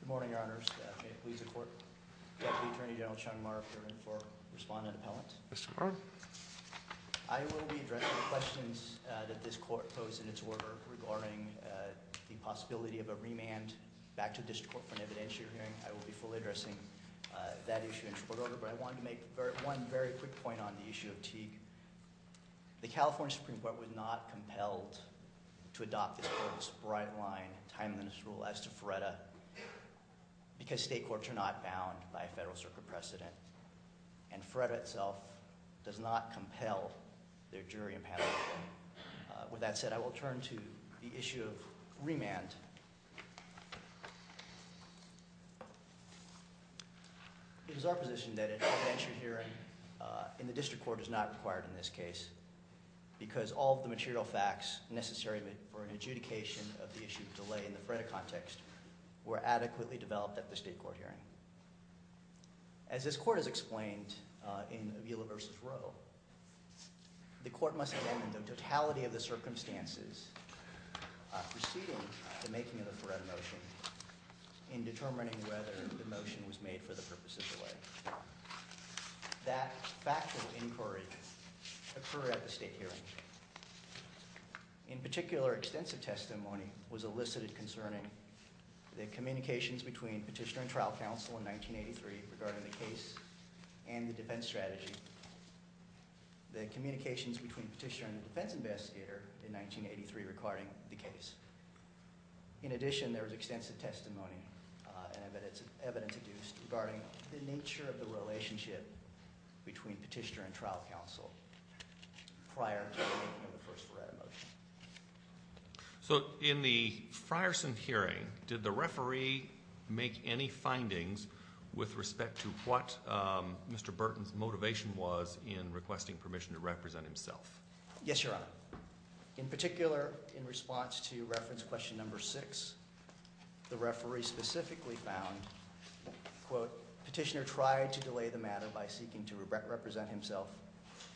Good morning, Your Honors. May it please the Court, Deputy Attorney General Sean Maher for Respondent Appellant. Mr. Maher. I will be addressing the questions that this Court posed in its order regarding the possibility of a remand back to the District Court for an evidentiary hearing. I will be fully addressing that issue in support order, but I wanted to make one very quick point on the issue of Teague. The California Supreme Court was not compelled to adopt this Court's bright-line, timeliness rule as to FREDA because state courts are not bound by a Federal Circuit precedent, and FREDA itself does not compel their jury and panel to do so. With that said, I will turn to the issue of remand. It is our position that an evidentiary hearing in the District Court is not required in this case because all of the material facts necessary for an adjudication of the issue of delay in the FREDA context were adequately developed at the State Court hearing. As this Court has explained in Avila v. Rowe, the Court must examine the totality of the circumstances preceding the making of the FREDA motion in determining whether the motion was made for the purpose of delay. That factual inquiry occurred at the State hearing. In particular, extensive testimony was elicited concerning the communications between Petitioner and Trial Counsel in 1983 regarding the case and the defense strategy, the communications between Petitioner and the defense investigator in 1983 regarding the case. In addition, there was testimony regarding the nature of the relationship between Petitioner and Trial Counsel prior to the making of the first FREDA motion. So in the Frierson hearing, did the referee make any findings with respect to what Mr. Burton's motivation was in requesting permission to represent himself? Yes, Your Honor. In particular, in response to reference question number six, the referee specifically found, quote, Petitioner tried to delay the matter by seeking to represent himself,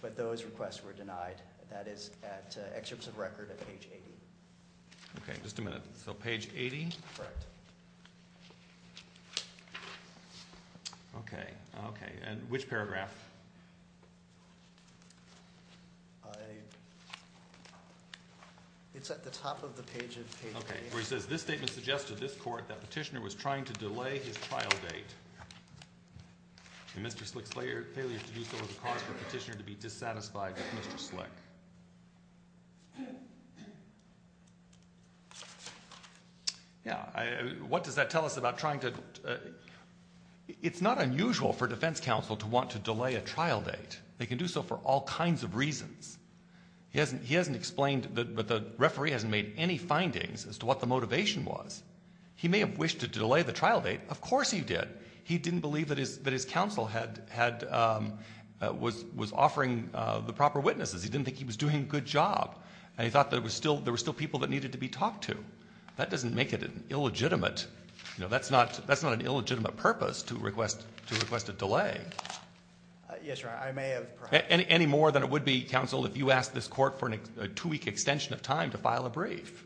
but those requests were denied. That is at excerpts of record at page 80. Okay. Just a minute. So page 80? Correct. Okay. Okay. And which paragraph? It's at the top of the page of page 80. Okay. Where it says, this statement suggests to this court that Petitioner was trying to delay his trial date. And Mr. Slick's failure to do so was a cause for Petitioner to be dissatisfied with Mr. Slick. Yeah. What does that tell us about trying to? It's not unusual for defense counsel to want to delay a trial date. They can do so for all kinds of reasons. He hasn't explained, but the referee hasn't made any findings as to what the motivation was. He may have wished to delay the trial date. Of course he did. He didn't believe that his counsel was offering the proper witnesses. He didn't think he was doing a good job. And he thought that there were still people that That's not an illegitimate purpose to request a delay. Yes, Your Honor. I may have perhaps Any more than it would be, counsel, if you asked this court for a two-week extension of time to file a brief.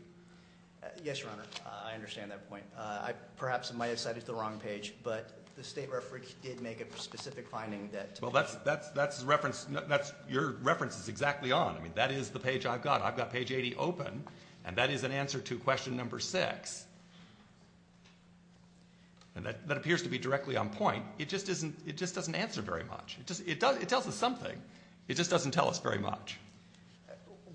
Yes, Your Honor. I understand that point. Perhaps I might have cited the wrong page, but the state referee did make a specific finding that Well, that's the reference. Your reference is exactly on. I mean, that is the page I've got. I've got page 80 open, and that is an answer to question number 6. And that appears to be directly on point. It just doesn't answer very much. It tells us something. It just doesn't tell us very much.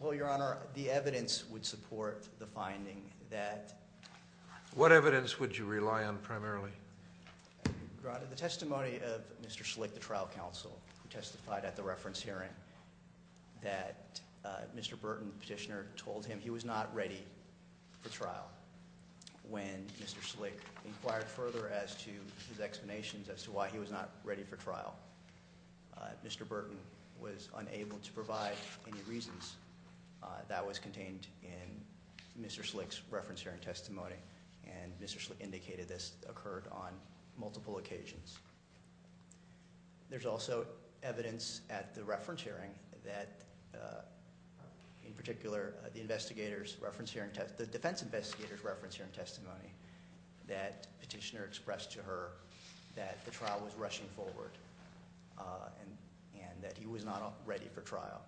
Well, Your Honor, the evidence would support the finding that What evidence would you rely on primarily? Your Honor, the testimony of Mr. Schlick, the trial counsel, who testified at the reference hearing, that Mr. Burton, the petitioner, told him he was not ready for trial. When Mr. Schlick inquired further as to his explanations as to why he was not ready for trial, Mr. Burton was unable to provide any reasons. That was contained in Mr. Schlick's reference hearing testimony. And Mr. Schlick indicated this occurred on multiple occasions. There's also evidence at the reference hearing that, in particular, the investigators' reference hearing testimony, the defense investigators' reference hearing testimony, that the petitioner expressed to her that the trial was rushing forward, and that he was not ready for trial.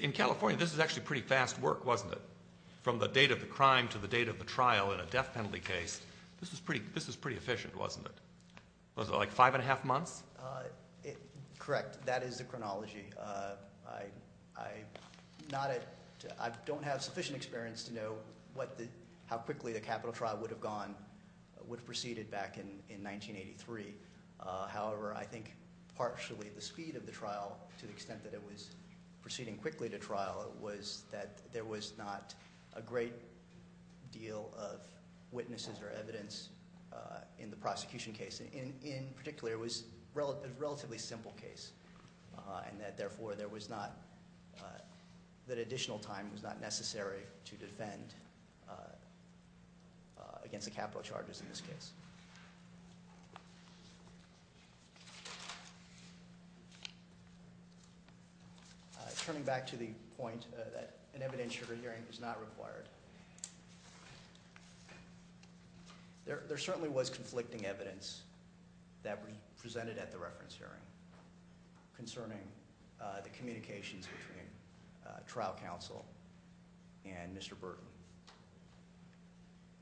In California, this is actually pretty fast work, wasn't it? From the date of the crime to the date of the trial in a death penalty case, this was pretty efficient, wasn't it? Was it like five and a half months? Correct. That is the chronology. I don't have sufficient experience to know how quickly the capital trial would have gone, would have proceeded back in 1983. However, I think partially the speed of the trial, to the extent that it was proceeding quickly to trial, was that there was not a great deal of witnesses or evidence in the prosecution case. In particular, it was a relatively simple case, and that, therefore, there was not that additional time was not necessary to defend against the capital charges in this case. Turning back to the point that an evidentiary hearing is not required, there certainly was conflicting evidence that was presented at the reference hearing concerning the communications between trial counsel and Mr. Burton.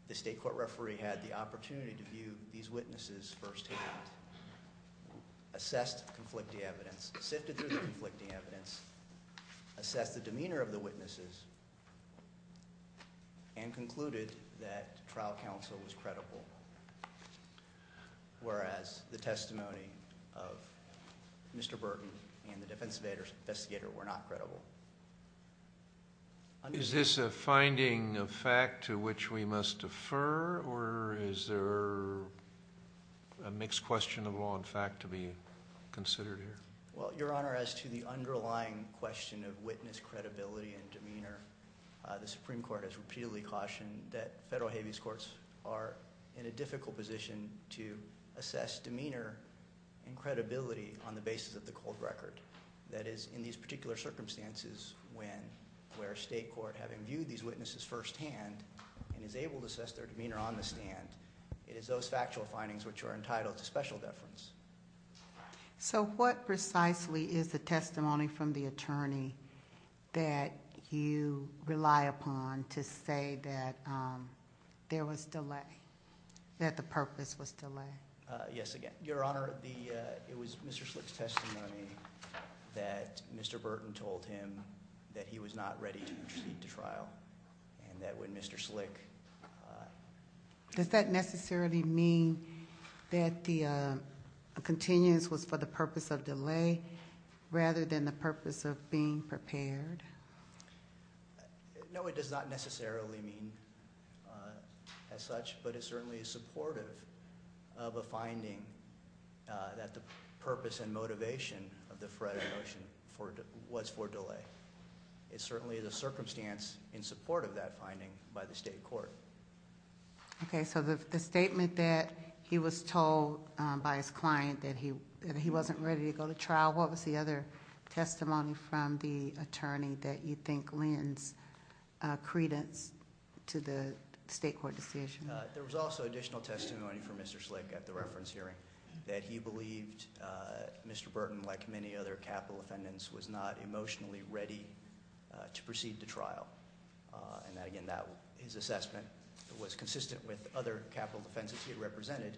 The state court referee had the opportunity to view these witnesses firsthand, assessed conflicting evidence, sifted through the conflicting evidence, assessed the demeanor of the witnesses, and concluded that trial counsel was credible, whereas the testimony of Mr. Burton and the defense investigator were not credible. Is this a finding of fact to which we must defer, or is there a mixed question of law and fact to be considered here? Well, Your Honor, as to the underlying question of witness credibility and demeanor, the Supreme to assess demeanor and credibility on the basis of the cold record, that is, in these particular circumstances where a state court, having viewed these witnesses firsthand and is able to assess their demeanor on the stand, it is those factual findings which are entitled to special deference. So what precisely is the testimony from the attorney that you rely upon to say that there was delay, that the purpose was delay? Yes, Your Honor, it was Mr. Slick's testimony that Mr. Burton told him that he was not ready to proceed to trial, and that when Mr. Slick... Does that necessarily mean that the continuance was for the purpose of delay rather than the purpose of being prepared? No, it does not necessarily mean as such, but it certainly is supportive of a finding that the purpose and motivation of the Frederick motion was for delay. It certainly is a circumstance in support of that finding by the state court. Okay, so the statement that he was told by his client that he wasn't ready to go to trial, what was the other testimony from the attorney that you think lends credence to the state court decision? There was also additional testimony from Mr. Slick at the reference hearing that he believed Mr. Burton, like many other capital defendants, was not emotionally ready to proceed to trial. And again, his assessment was consistent with other capital defendants he represented,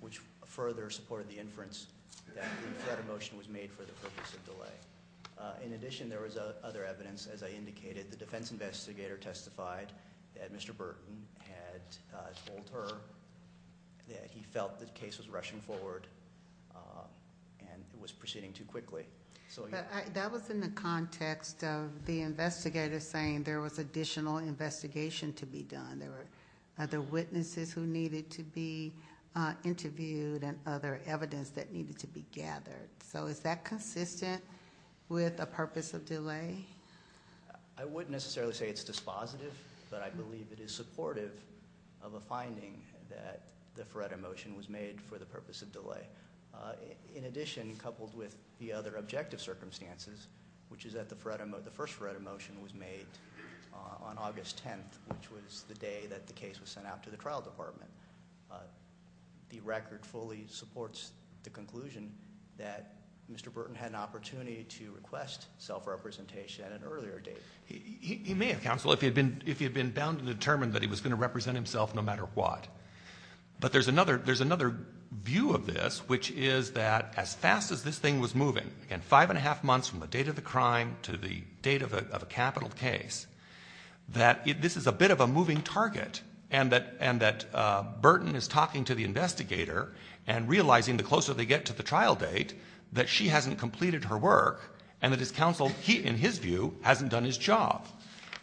which further supported the inference that the Frederick motion was made for the purpose of delay. In addition, there was other evidence, as I indicated. The defense investigator testified that Mr. Burton had told her that he felt the case was rushing forward and it was proceeding too quickly. That was in the context of the investigator saying there was additional investigation to be done. There were other witnesses who needed to be interviewed and other evidence that needed to be gathered. So is that consistent with a purpose of delay? I wouldn't necessarily say it's dispositive, but I believe it is supportive of a finding that the Frederick motion was made for the purpose of delay. In addition, coupled with the other objective circumstances, which is that the first Frederick motion was made on August 10th, which was the day that the case was sent out to the trial department, the record fully supports the conclusion that Mr. Burton had an opportunity to request self-representation at an earlier date. He may have, counsel, if he had been bound and determined that he was going to represent himself no matter what. But there's another view of this, which is that as fast as this thing was moving, again, five and a half months from the date of the crime to the date of a capital case, that this is a bit of a moving target and that Burton is talking to the investigator and realizing the closer they get to the trial date that she hasn't completed her work and that his counsel, in his view, hasn't done his job.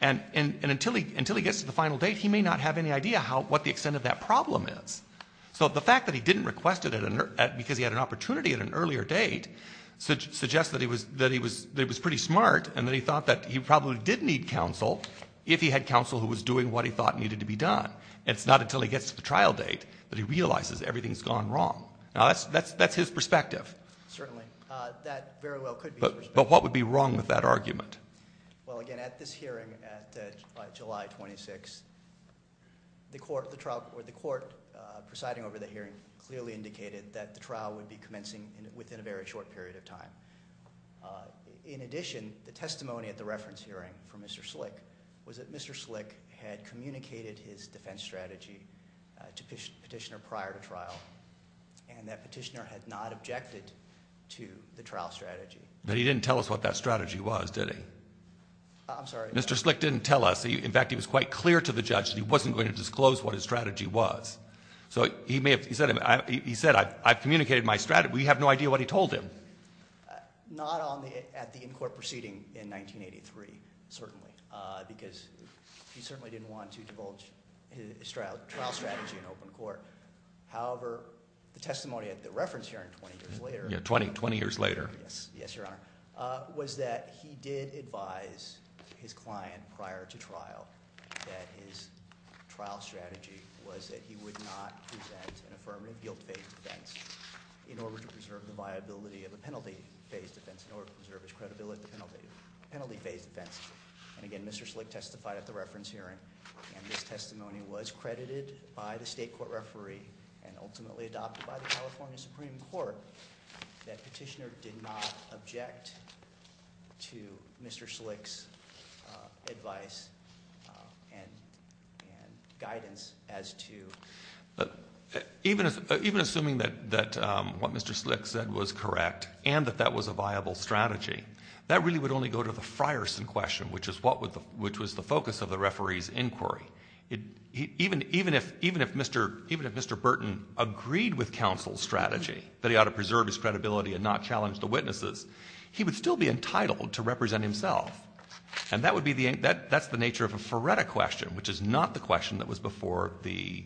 And until he gets to the final date, he may not have any idea what the extent of that problem is. So the fact that he didn't request it because he had an opportunity at an earlier date suggests that he was pretty smart and that he thought that he probably did need counsel if he had counsel who was doing what he thought needed to be done. It's not until he gets to the trial date that he realizes everything's gone wrong. Now, that's his perspective. Certainly. That very well could be his perspective. But what would be wrong with that argument? Well, again, at this hearing by July 26, the court presiding over the hearing clearly indicated that the trial would be commencing within a very short period of time. In addition, the testimony at the reference hearing from Mr. Slick was that Mr. Slick had communicated his defense strategy to Petitioner prior to trial and that Petitioner had not objected to the trial strategy. But he didn't tell us what that strategy was, did he? I'm sorry? Mr. Slick didn't tell us. In fact, he was quite clear to the judge that he wasn't going to disclose what his strategy was. So he said, I've communicated my strategy. We have no idea what he told him. Not at the in-court proceeding in 1983, certainly, because he certainly didn't want to divulge his trial strategy in open court. However, the testimony at the reference hearing 20 years later. Yeah, 20 years later. Yes, Your Honor, was that he did advise his client prior to trial that his trial strategy was that he would not present an affirmative guilt-based defense in order to preserve the viability of a penalty-based defense, in order to preserve his credibility at the penalty-based defense. And again, Mr. Slick testified at the reference hearing, and this testimony was credited by the state court referee and ultimately adopted by the California Supreme Court, that Petitioner did not object to Mr. Slick's advice and guidance as to... Even assuming that what Mr. Slick said was correct and that that was a viable strategy, that really would only go to the Frierson question, which was the focus of the referee's inquiry. Even if Mr. Burton agreed with counsel's strategy, that he ought to preserve his credibility and not challenge the witnesses, he would still be entitled to represent himself. And that's the nature of a Feretta question, which is not the question that was before the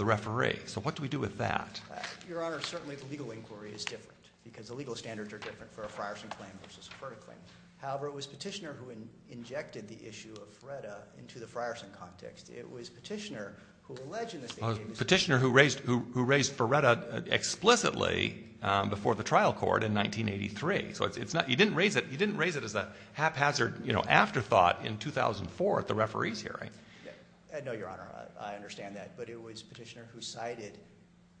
referee. So what do we do with that? Your Honor, certainly the legal inquiry is different, because the legal standards are different for a Frierson claim versus a Feretta claim. However, it was Petitioner who injected the issue of Feretta into the Frierson context. It was Petitioner who alleged in the state... Petitioner who raised Feretta explicitly before the trial court in 1983. So you didn't raise it as a haphazard afterthought in 2004 at the referee's hearing. No, Your Honor, I understand that. But it was Petitioner who cited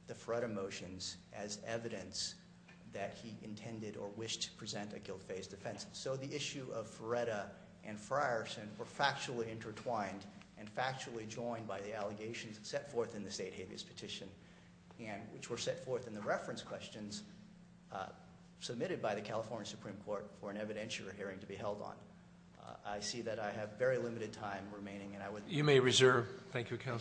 the Feretta motions as evidence that he intended or wished to present a guilt-based defense. So the issue of Feretta and Frierson were factually intertwined and factually joined by the allegations set forth in the state habeas petition, which were set forth in the reference questions submitted by the California Supreme Court for an evidentiary hearing to be held on. I see that I have very limited time remaining, and I would... Thank you, Counsel. Thank you, Your Honor.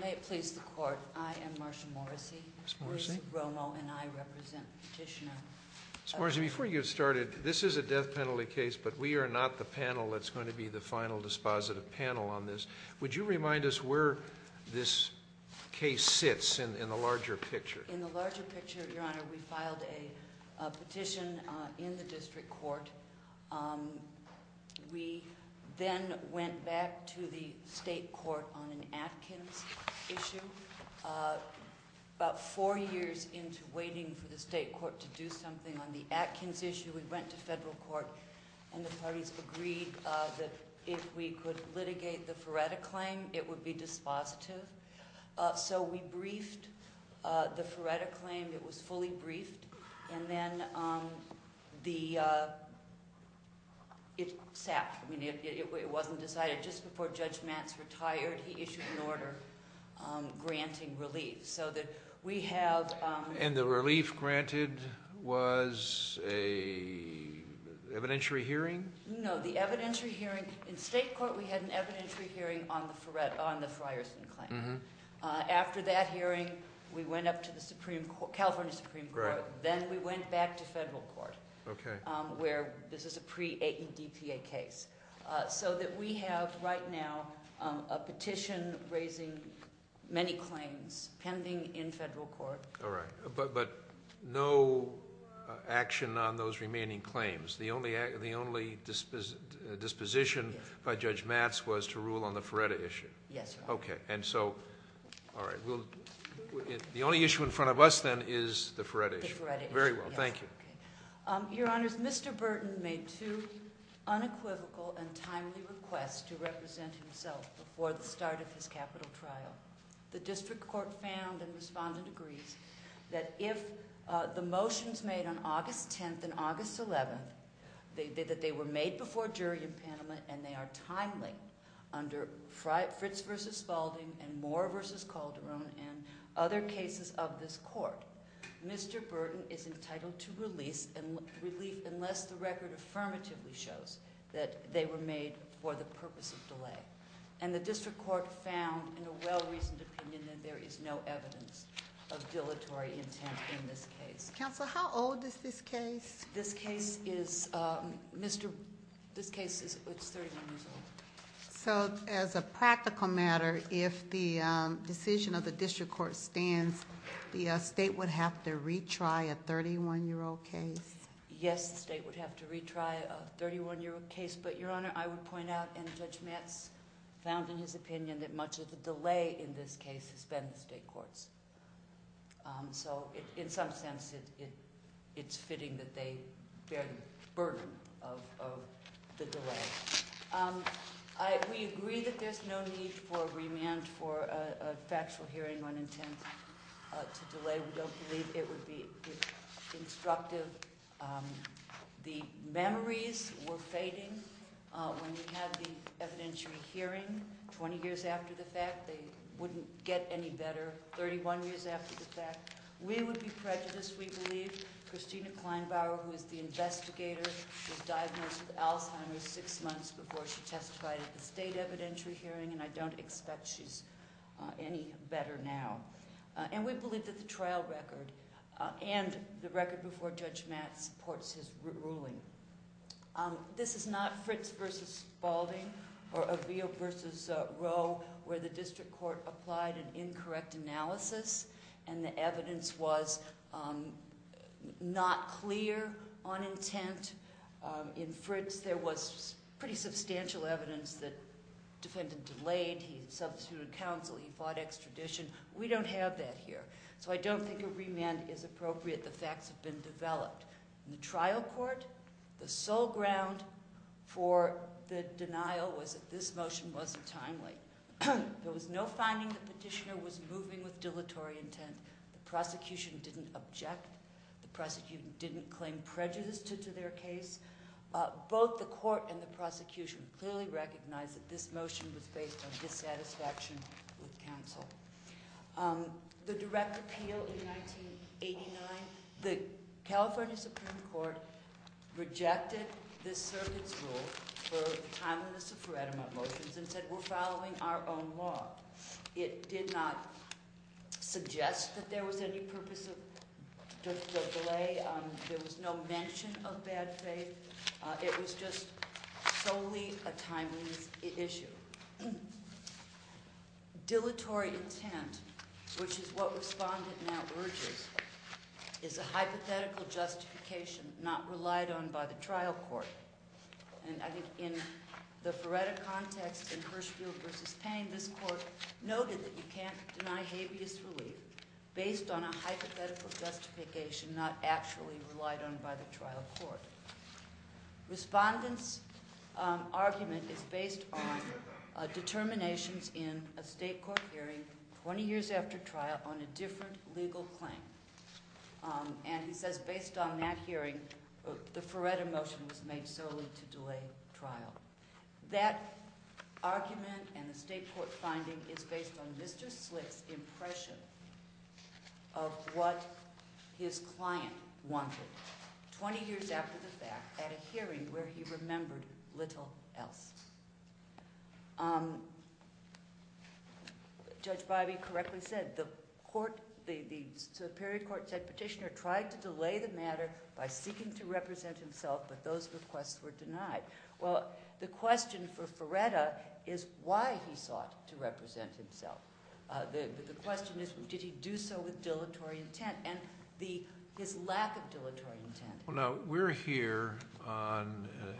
May it please the Court, I am Marsha Morrissey. Ms. Morrissey. Bruce Romo, and I represent Petitioner. Ms. Morrissey, before you get started, this is a death penalty case, but we are not the panel that's going to be the final dispositive panel on this. Would you remind us where this case sits in the larger picture? In the larger picture, Your Honor, we filed a petition in the district court. We then went back to the state court on an Atkins issue. About four years into waiting for the state court to do something on the Atkins issue, we went to federal court, and the parties agreed that if we could litigate the Feretta claim, it would be dispositive. So we briefed the Feretta claim. It was fully briefed, and then it sat. It wasn't decided. Just before Judge Matz retired, he issued an order granting relief. And the relief granted was an evidentiary hearing? No, the evidentiary hearing. In state court, we had an evidentiary hearing on the Frierson claim. After that hearing, we went up to the California Supreme Court. Then we went back to federal court, where this is a pre-ADPA case. So that we have, right now, a petition raising many claims pending in federal court. All right, but no action on those remaining claims. The only disposition by Judge Matz was to rule on the Feretta issue. Yes, Your Honor. Okay, and so, all right. The only issue in front of us, then, is the Feretta issue. The Feretta issue, yes. Very well, thank you. Your Honors, Mr. Burton made two unequivocal and timely requests to represent himself before the start of his capital trial. The district court found, and the respondent agrees, that if the motions made on August 10th and August 11th, that they were made before a jury in Panama and they are timely, under Fritz v. Spalding and Moore v. Calderon and other cases of this court, Mr. Burton is entitled to relief unless the record affirmatively shows that they were made for the purpose of delay. And the district court found, in a well-reasoned opinion, that there is no evidence of dilatory intent in this case. Counsel, how old is this case? This case is 31 years old. So, as a practical matter, if the decision of the district court stands, the state would have to retry a 31 year old case? Yes, the state would have to retry a 31 year old case. But, Your Honor, I would point out, and Judge Matz found in his opinion, that much of the delay in this case has been the state courts. So, in some sense, it's fitting that they bear the burden of the delay. We agree that there's no need for a remand for a factual hearing on intent to delay. We don't believe it would be instructive. The memories were fading when we had the evidentiary hearing 20 years after the fact. They wouldn't get any better 31 years after the fact. We would be prejudiced, we believe. Christina Kleinbauer, who is the investigator, was diagnosed with Alzheimer's six months before she testified at the state evidentiary hearing. And I don't expect she's any better now. And we believe that the trial record and the record before Judge Matz supports his ruling. This is not Fritz v. Balding or Aveo v. Rowe where the district court applied an incorrect analysis and the evidence was not clear on intent. In Fritz, there was pretty substantial evidence that the defendant delayed, he substituted counsel, he fought extradition. We don't have that here. So I don't think a remand is appropriate. The facts have been developed. In the trial court, the sole ground for the denial was that this motion wasn't timely. There was no finding the petitioner was moving with dilatory intent. The prosecution didn't object. The prosecution didn't claim prejudice to their case. Both the court and the prosecution clearly recognized that this motion was based on dissatisfaction with counsel. The direct appeal in 1989, the California Supreme Court rejected this circuit's rule for the timeliness of Furedema motions and said we're following our own law. It did not suggest that there was any purpose of delay. There was no mention of bad faith. It was just solely a timeliness issue. Dilatory intent, which is what respondent now urges, is a hypothetical justification not relied on by the trial court. And I think in the Fureda context in Hirschfield v. Payne, this court noted that you can't deny habeas relief based on a hypothetical justification not actually relied on by the trial court. Respondent's argument is based on determinations in a state court hearing 20 years after trial on a different legal claim. And he says based on that hearing, the Fureda motion was made solely to delay trial. That argument and the state court finding is based on Mr. Slick's impression of what his client wanted 20 years after the fact at a hearing where he remembered little else. Judge Bybee correctly said the court, the superior court said petitioner tried to delay the matter by seeking to represent himself, but those requests were denied. Well, the question for Fureda is why he sought to represent himself. The question is did he do so with dilatory intent and his lack of dilatory intent. Well, now we're here on an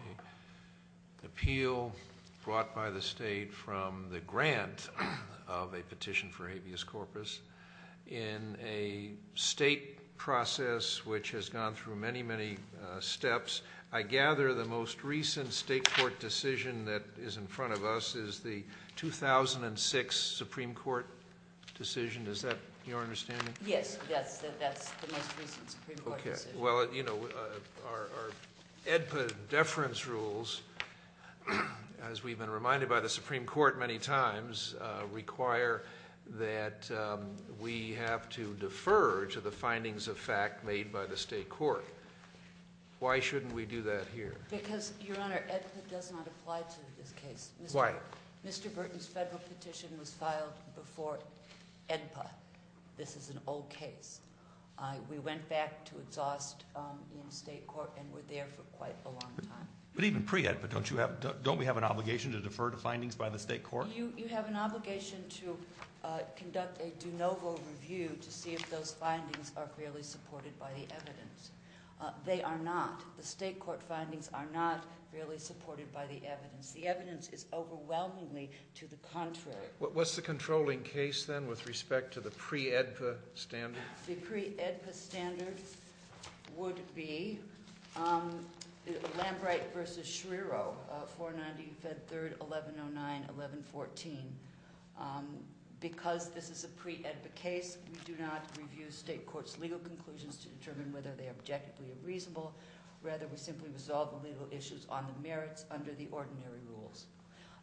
appeal brought by the state from the grant of a petition for habeas corpus in a state process which has gone through many, many steps. I gather the most recent state court decision that is in front of us is the 2006 Supreme Court decision. Is that your understanding? Yes, that's the most recent Supreme Court decision. Well, you know, our AEDPA deference rules, as we've been reminded by the Supreme Court many times, require that we have to defer to the findings of fact made by the state court. Why shouldn't we do that here? Because, Your Honor, AEDPA does not apply to this case. Why? Mr. Burton's federal petition was filed before AEDPA. This is an old case. We went back to exhaust in state court and were there for quite a long time. But even pre-AEDPA, don't we have an obligation to defer to findings by the state court? You have an obligation to conduct a de novo review to see if those findings are fairly supported by the evidence. They are not. The state court findings are not fairly supported by the evidence. The evidence is overwhelmingly to the contrary. What's the controlling case, then, with respect to the pre-AEDPA standard? The pre-AEDPA standard would be Lambright v. Schrierow, 490 Fed 3rd, 1109, 1114. Because this is a pre-AEDPA case, we do not review state court's legal conclusions to determine whether they are objectively reasonable. Rather, we simply resolve the legal issues on the merits under the ordinary rules.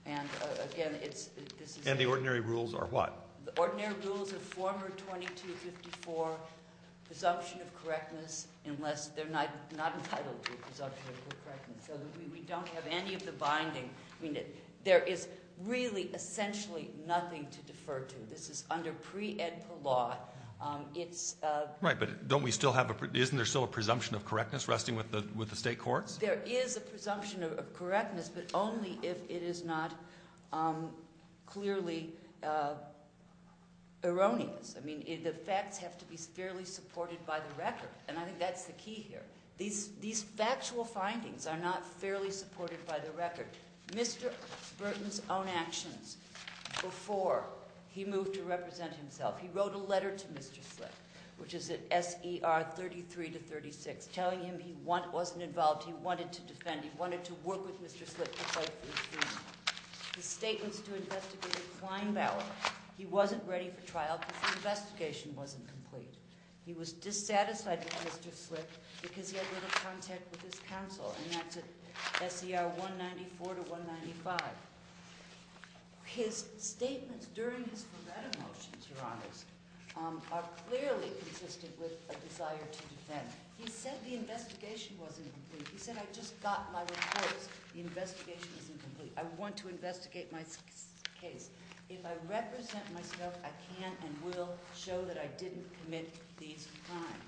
And, again, this is- And the ordinary rules are what? The ordinary rules are former 2254 presumption of correctness unless they're not entitled to a presumption of correctness. So we don't have any of the binding. I mean, there is really essentially nothing to defer to. This is under pre-AEDPA law. It's- Right, but don't we still have a- isn't there still a presumption of correctness resting with the state courts? There is a presumption of correctness, but only if it is not clearly erroneous. I mean, the facts have to be fairly supported by the record, and I think that's the key here. These factual findings are not fairly supported by the record. Mr. Burton's own actions before he moved to represent himself- He wrote a letter to Mr. Slick, which is at SER 33-36, telling him he wasn't involved. He wanted to defend. He wanted to work with Mr. Slick to fight for his freedom. His statements to investigator Kleinbauer- He wasn't ready for trial because the investigation wasn't complete. He was dissatisfied with Mr. Slick because he had little contact with his counsel, and that's at SER 194-195. His statements during his Ferretta motions, Your Honors, are clearly consistent with a desire to defend. He said the investigation wasn't complete. He said, I just got my report. The investigation was incomplete. I want to investigate my case. If I represent myself, I can and will show that I didn't commit these crimes.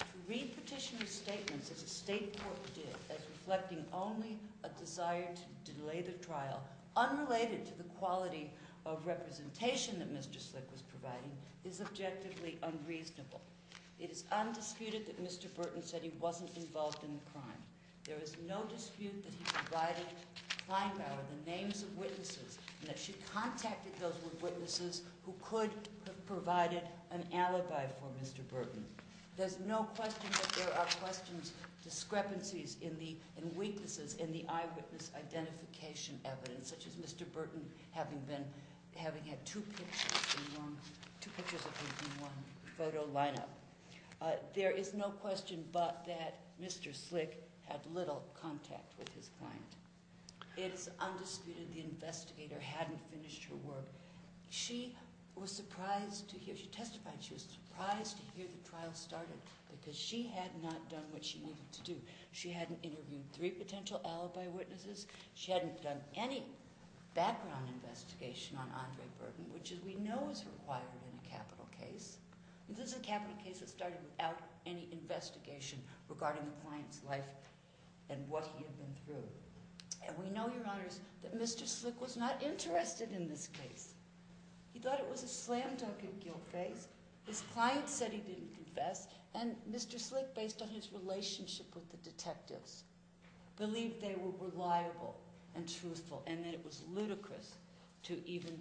To read petitioner's statements as a state court did, as reflecting only a desire to delay the trial, unrelated to the quality of representation that Mr. Slick was providing, is objectively unreasonable. It is undisputed that Mr. Burton said he wasn't involved in the crime. There is no dispute that he provided Kleinbauer the names of witnesses, and that she contacted those witnesses who could have provided an alibi for Mr. Burton. There's no question that there are questions, discrepancies, and weaknesses in the eyewitness identification evidence, such as Mr. Burton having had two pictures of him in one photo lineup. There is no question but that Mr. Slick had little contact with his client. It is undisputed the investigator hadn't finished her work. She testified she was surprised to hear the trial started because she had not done what she needed to do. She hadn't interviewed three potential alibi witnesses. She hadn't done any background investigation on Andre Burton, which we know is required in a capital case. This is a capital case that started without any investigation regarding the client's life and what he had been through. And we know, Your Honors, that Mr. Slick was not interested in this case. He thought it was a slam dunk in guilt phase. His client said he didn't confess, and Mr. Slick, based on his relationship with the detectives, believed they were reliable and truthful, and that it was ludicrous to even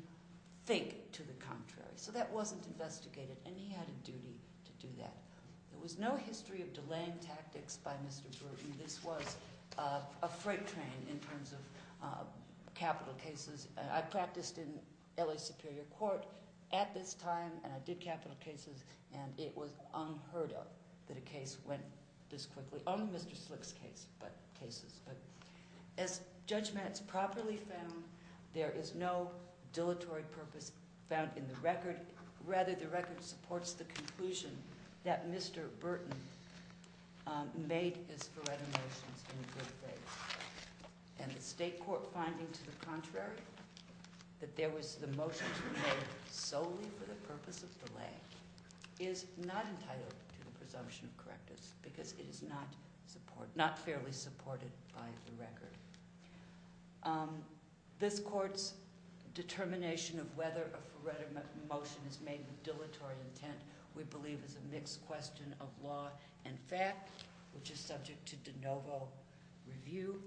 think to the contrary. So that wasn't investigated, and he had a duty to do that. There was no history of delaying tactics by Mr. Burton. This was a freight train in terms of capital cases. I practiced in L.A. Superior Court at this time, and I did capital cases, and it was unheard of that a case went this quickly, only Mr. Slick's cases. But as judgment is properly found, there is no dilatory purpose found in the record. Rather, the record supports the conclusion that Mr. Burton made his Feretta Motions in good faith. And the state court finding to the contrary, that there was the motion to be made solely for the purpose of delay, is not entitled to the presumption of correctness because it is not fairly supported by the record. This court's determination of whether a Feretta Motion is made with dilatory intent, we believe is a mixed question of law and fact, which is subject to de novo review.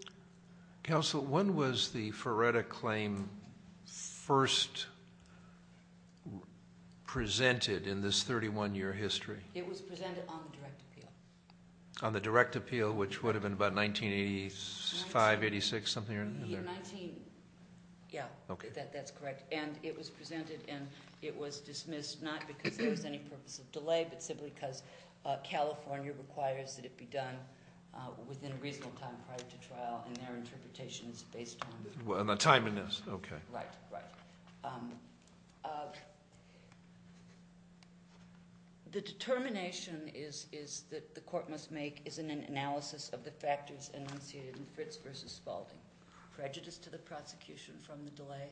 Counsel, when was the Feretta Claim first presented in this 31-year history? It was presented on the direct appeal. On the direct appeal, which would have been about 1985, 86, something in there? Yeah, that's correct. And it was presented, and it was dismissed not because there was any purpose of delay, but simply because California requires that it be done within a reasonable time prior to trial. And their interpretation is based on- On the time in this, okay. Right, right. The determination is that the court must make is an analysis of the factors initiated in Fritz v. Spalding. Prejudice to the prosecution from the delay.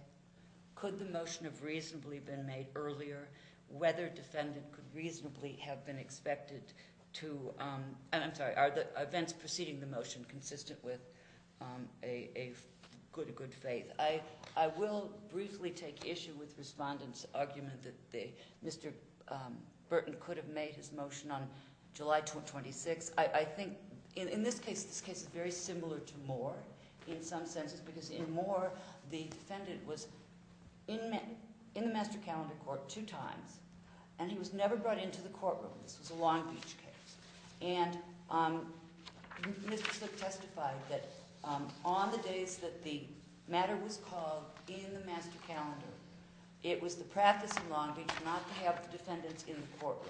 Could the motion have reasonably been made earlier? Whether defendant could reasonably have been expected to- I'm sorry, are the events preceding the motion consistent with a good faith? I will briefly take issue with respondent's argument that Mr. Burton could have made his motion on July 26th. I think in this case, this case is very similar to Moore in some senses because in Moore, the defendant was in the master calendar court two times, and he was never brought into the courtroom. This was a Long Beach case. And Mr. Slick testified that on the days that the matter was called in the master calendar, it was the practice in Long Beach not to have the defendants in the courtroom.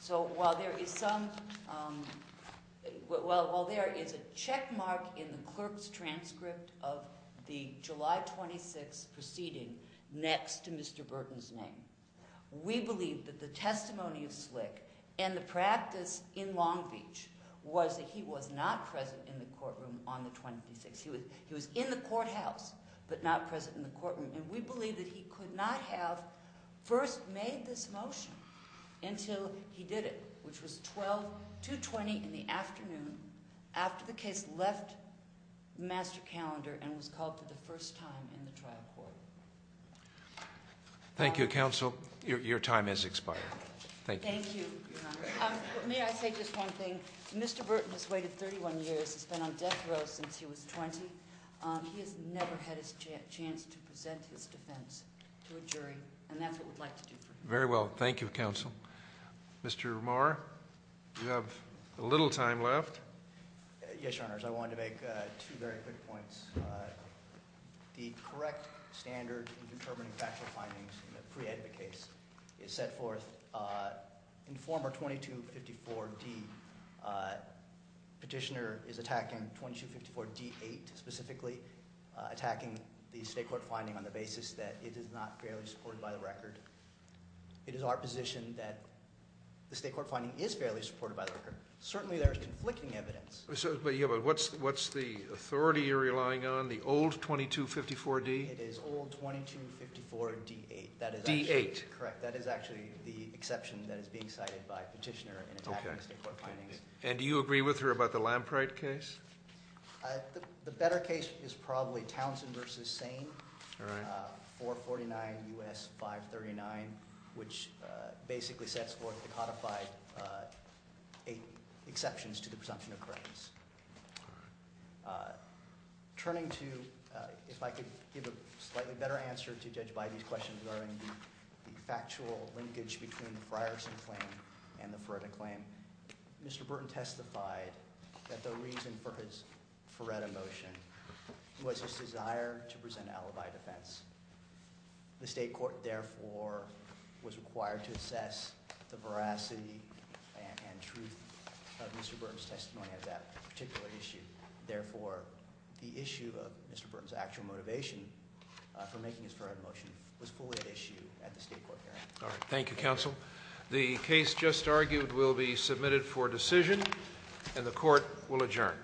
So while there is some- While there is a checkmark in the clerk's transcript of the July 26th proceeding next to Mr. Burton's name, we believe that the testimony of Slick and the practice in Long Beach was that he was not present in the courtroom on the 26th. He was in the courthouse but not present in the courtroom. And we believe that he could not have first made this motion until he did it, which was 12-220 in the afternoon after the case left the master calendar and was called for the first time in the trial court. Thank you, Counsel. Your time has expired. Thank you. Thank you, Your Honor. May I say just one thing? Mr. Burton has waited 31 years. He's been on death row since he was 20. He has never had a chance to present his defense to a jury, and that's what we'd like to do for him. Very well. Thank you, Counsel. Mr. Marr, you have a little time left. Yes, Your Honors. I wanted to make two very quick points. The correct standard in determining factual findings in a preedit case is set forth in former 2254D. Petitioner is attacking 2254D-8 specifically, attacking the state court finding on the basis that it is not fairly supported by the record. It is our position that the state court finding is fairly supported by the record. Certainly there is conflicting evidence. Yeah, but what's the authority you're relying on, the old 2254D? It is old 2254D-8. D-8. Correct. That is actually the exception that is being cited by Petitioner in attacking the state court findings. Okay. And do you agree with her about the Lampright case? All right. We have a motion, 449 U.S. 539, which basically sets forth the codified exceptions to the presumption of credence. All right. Turning to, if I could give a slightly better answer to Judge Bidey's question regarding the factual linkage between the Frierson claim and the Feretta claim, Mr. Burton testified that the reason for his Feretta motion was his desire to present an alibi defense. The state court, therefore, was required to assess the veracity and truth of Mr. Burton's testimony of that particular issue. Therefore, the issue of Mr. Burton's actual motivation for making his Feretta motion was fully at issue at the state court hearing. All right. Thank you, counsel. The case just argued will be submitted for decision, and the court will adjourn.